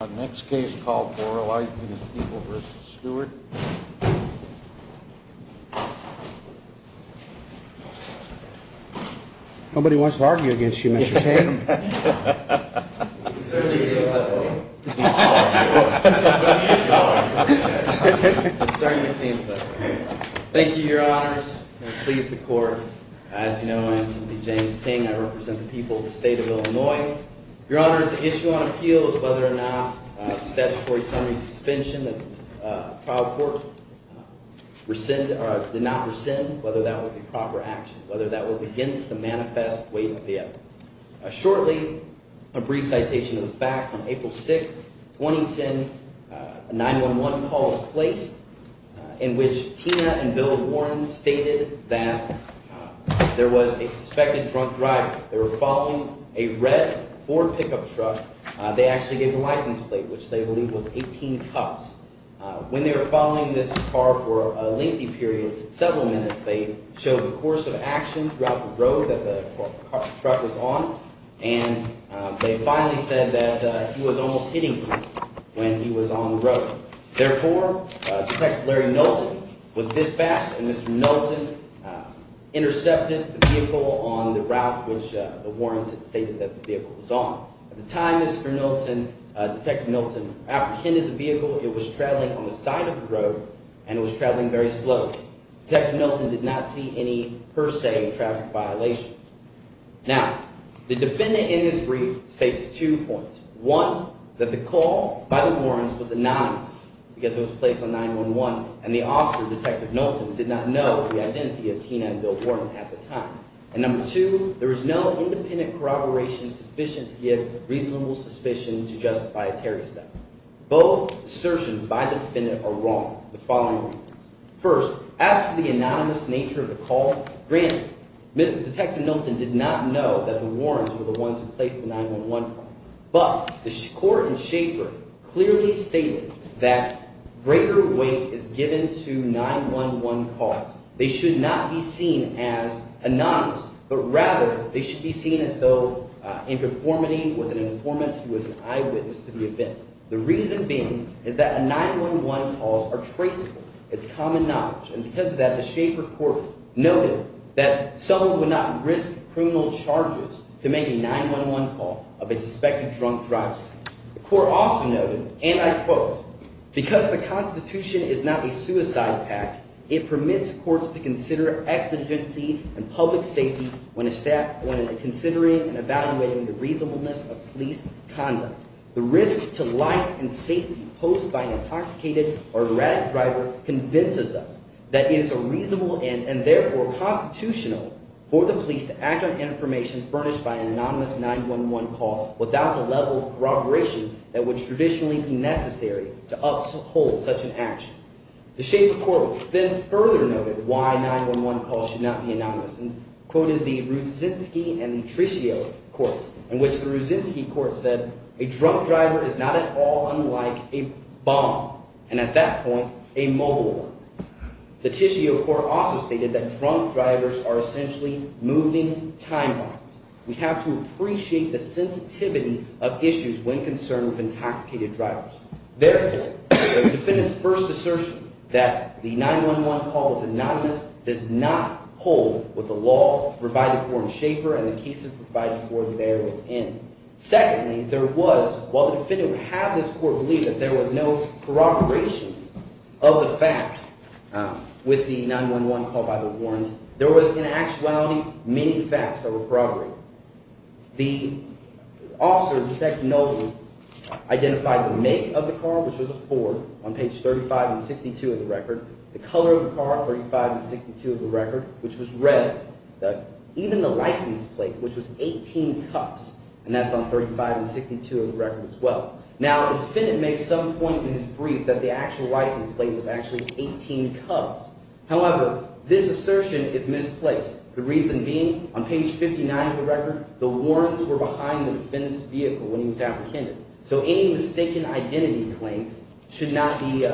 A next case called Borlaughten v. Stewart. Nobody wants to argue against you, Mr. Ting. Thank you, your honors. I'm pleased to court. As you know, I am simply James Ting. I represent the people of the state of Illinois. Your honors, the issue on appeal is whether or not the statutory summary suspension of the trial court did not rescind, whether that was the proper action, whether that was against the manifest weight of the evidence. Shortly, a brief citation of the facts on April 6, 2010, a 911 call was placed in which Tina and Bill Warren stated that there was a suspected drunk driver. They were following a red Ford pickup truck. They actually gave the license plate, which they believe was 18 cups. When they were following this car for a lengthy period, several minutes, they showed the course of action throughout the road that the truck was on, and they finally said that he was almost hitting them when he was on the road. Therefore, Detective Larry Knowlton was dispatched, and Mr. Knowlton intercepted the vehicle on the route which the Warrens had stated that the vehicle was on. At the time, Mr. Knowlton, Detective Knowlton apprehended the vehicle. It was traveling on the side of the road, and it was traveling very slow. Detective Knowlton did not see any, per se, traffic violations. Now, the defendant in this brief states two points. One, that the call by the Warrens was anonymous because it was placed on 911, and the officer, Detective Knowlton, did not know the identity of Tina and Bill Warren at the time. And number two, there is no independent corroboration sufficient to give reasonable suspicion to justify a Terry step. Both assertions by the defendant are wrong for the following reasons. First, as for the anonymous nature of the call, granted, Detective Knowlton did not know that the Warrens were the ones who placed the 911 call. But the court in Schaeffer clearly stated that greater weight is given to 911 calls. They should not be seen as anonymous, but rather they should be seen as though in conformity with an informant who was an eyewitness to the event. The reason being is that 911 calls are traceable. It's common knowledge. And because of that, the Schaeffer court noted that someone would not risk criminal charges to make a 911 call of a suspected drunk driver. The court also noted, and I quote, because the Constitution is not a suicide pact, it permits courts to consider exigency and public safety when considering and evaluating the reasonableness of police conduct. The risk to life and safety posed by an intoxicated or erratic driver convinces us that it is a reasonable and therefore constitutional for the police to act on information furnished by an anonymous 911 call without the level of corroboration that would traditionally be necessary to uphold such an action. The Schaeffer court then further noted why 911 calls should not be anonymous and quoted the Ruzynski and the Tiscio courts, in which the Ruzynski court said, a drunk driver is not at all unlike a bomb, and at that point, a mobile one. The Tiscio court also stated that drunk drivers are essentially moving time bombs. We have to appreciate the sensitivity of issues when concerned with intoxicated drivers. Therefore, the defendant's first assertion that the 911 call was anonymous does not hold with the law provided for in Schaeffer and the cases provided for therein. Secondly, there was – while the defendant would have this court believe that there was no corroboration of the facts with the 911 call by the warrants, there was in actuality many facts that were corroborated. The officer, Detective Nolden, identified the make of the car, which was a Ford, on page 35 and 62 of the record, the color of the car, 35 and 62 of the record, which was red, even the license plate, which was 18 cups, and that's on 35 and 62 of the record as well. Now, the defendant made some point in his brief that the actual license plate was actually 18 cups. However, this assertion is misplaced, the reason being, on page 59 of the record, the warrants were behind the defendant's vehicle when he was apprehended. So any mistaken identity claim should not be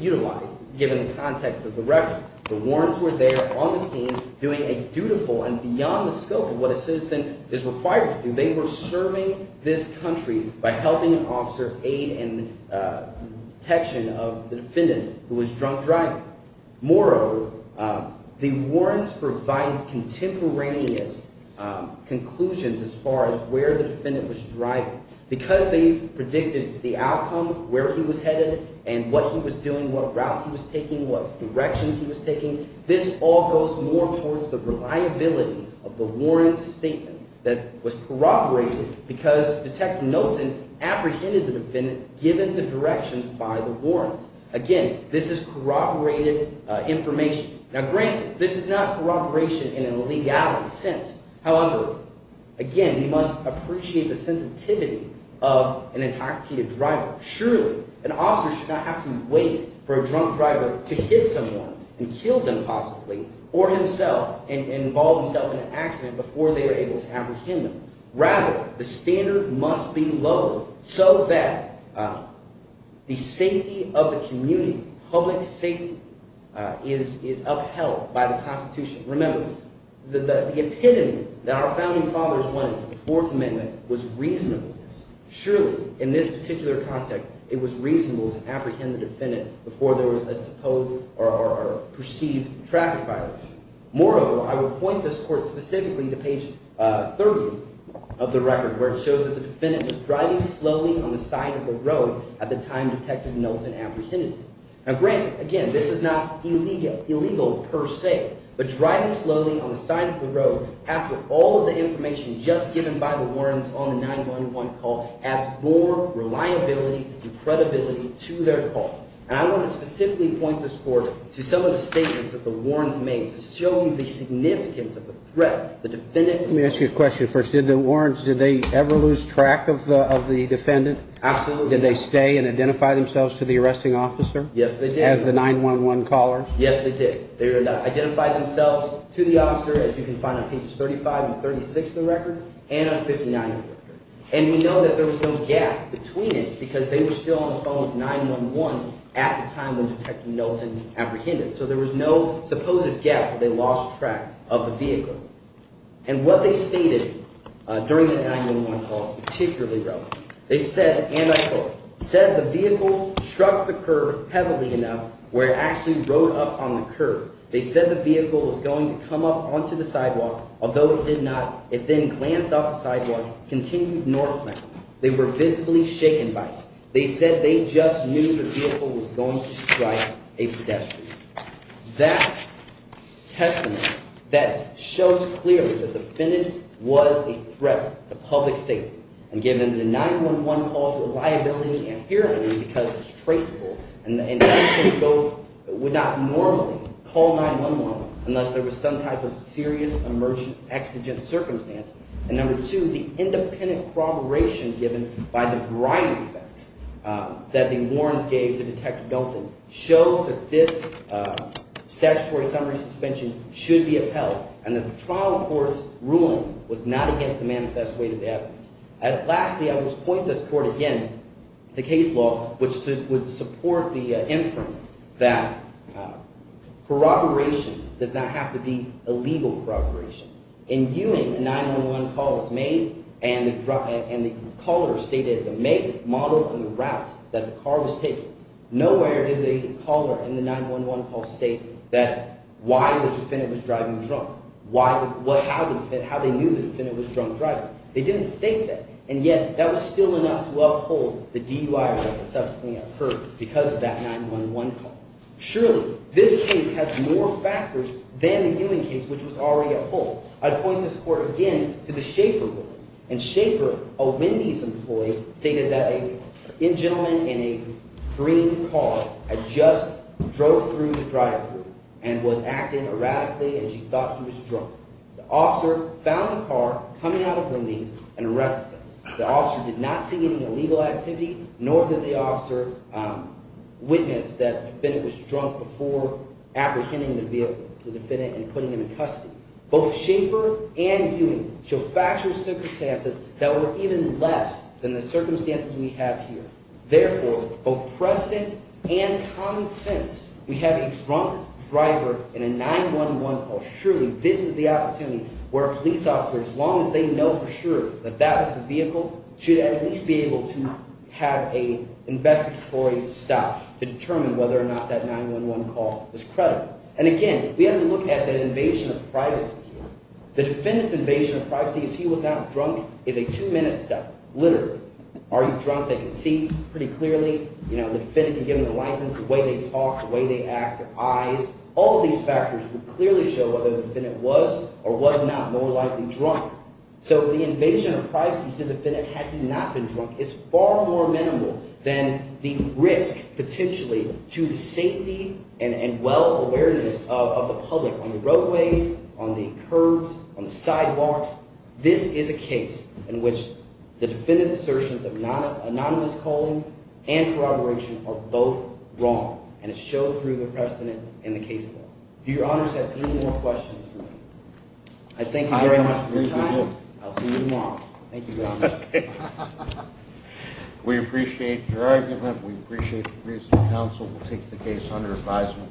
utilized, given the context of the record. The warrants were there on the scene doing a dutiful and beyond the scope of what a citizen is required to do. They were serving this country by helping an officer aid and protection of the defendant who was drunk driving. Moreover, the warrants provided contemporaneous conclusions as far as where the defendant was driving. Because they predicted the outcome, where he was headed and what he was doing, what routes he was taking, what directions he was taking, this all goes more towards the reliability of the warrants' statements that was corroborated because Detective Nolden apprehended the defendant given the directions by the warrants. Again, this is corroborated information. Now, granted, this is not corroboration in a legality sense. However, again, we must appreciate the sensitivity of an intoxicated driver. Surely, an officer should not have to wait for a drunk driver to hit someone and kill them possibly or himself and involve himself in an accident before they were able to apprehend them. Rather, the standard must be lowered so that the safety of the community, public safety, is upheld by the Constitution. Remember, the epitome that our Founding Fathers wanted for the Fourth Amendment was reasonableness. Surely, in this particular context, it was reasonable to apprehend the defendant before there was a supposed or perceived traffic violation. Moreover, I would point this court specifically to page 30 of the record, where it shows that the defendant was driving slowly on the side of the road at the time Detective Nolden apprehended him. Now, granted, again, this is not illegal per se, but driving slowly on the side of the road after all of the information just given by the warrants on the 911 call adds more reliability and credibility to their call. And I want to specifically point this court to some of the statements that the warrants made to show you the significance of the threat. Let me ask you a question first. Did the warrants – did they ever lose track of the defendant? Absolutely. Did they stay and identify themselves to the arresting officer? Yes, they did. As the 911 caller? Yes, they did. They identified themselves to the officer, as you can find on pages 35 and 36 of the record, and on 59 of the record. And we know that there was no gap between it because they were still on the phone with 911 at the time when Detective Nolden apprehended him. So there was no supposed gap. They lost track of the vehicle. And what they stated during the 911 call is particularly relevant. They said – and I quote – they said the vehicle struck the curb heavily enough where it actually rode up on the curb. They said the vehicle was going to come up onto the sidewalk. Although it did not, it then glanced off the sidewalk and continued northbound. They were visibly shaken by it. They said they just knew the vehicle was going to strike a pedestrian. That testament, that shows clearly that the defendant was a threat to public safety. And given the 911 call's reliability, apparently because it's traceable, and the investigators would not normally call 911 unless there was some type of serious emergent exigent circumstance. And number two, the independent corroboration given by the variety of facts that the warrants gave to Detective Nolden shows that this statutory summary suspension should be upheld and that the trial court's ruling was not against the manifest way to the evidence. Lastly, I would point this court again to case law, which would support the inference that corroboration does not have to be a legal corroboration. In Ewing, a 911 call was made, and the caller stated the model from the route that the car was taken. Nowhere did the caller in the 911 call state that why the defendant was driving drunk, how they knew the defendant was drunk driving. They didn't state that, and yet that was still enough to uphold the DUI arrest that subsequently occurred because of that 911 call. Surely, this case has more factors than the Ewing case, which was already upheld. I'd point this court again to the Schaeffer ruling, and Schaeffer, a Wendy's employee, stated that a gentleman in a green car had just drove through the driveway and was acting erratically as he thought he was drunk. The officer found the car coming out of Wendy's and arrested him. The officer did not see any illegal activity, nor did the officer witness that the defendant was drunk before apprehending the vehicle, the defendant, and putting him in custody. Both Schaeffer and Ewing show factual circumstances that were even less than the circumstances we have here. Therefore, both precedent and common sense, we have a drunk driver in a 911 call. Surely, this is the opportunity where a police officer, as long as they know for sure that that was the vehicle, should at least be able to have an investigatory stop to determine whether or not that 911 call was credible. And again, we have to look at the invasion of privacy here. The defendant's invasion of privacy if he was not drunk is a two-minute step, literally. Are you drunk? They can see pretty clearly. The defendant can give them the license, the way they talk, the way they act, their eyes. All of these factors would clearly show whether the defendant was or was not more likely drunk. So the invasion of privacy to the defendant had he not been drunk is far more minimal than the risk, potentially, to the safety and well-awareness of the public on the roadways, on the curbs, on the sidewalks. This is a case in which the defendant's assertions of anonymous calling and corroboration are both wrong, and it's shown through the precedent and the case law. Your Honors, I have three more questions for you. I thank you very much for your time. I'll see you tomorrow. Thank you, Your Honors. We appreciate your argument. We appreciate the recent counsel. We'll take the case under advisement.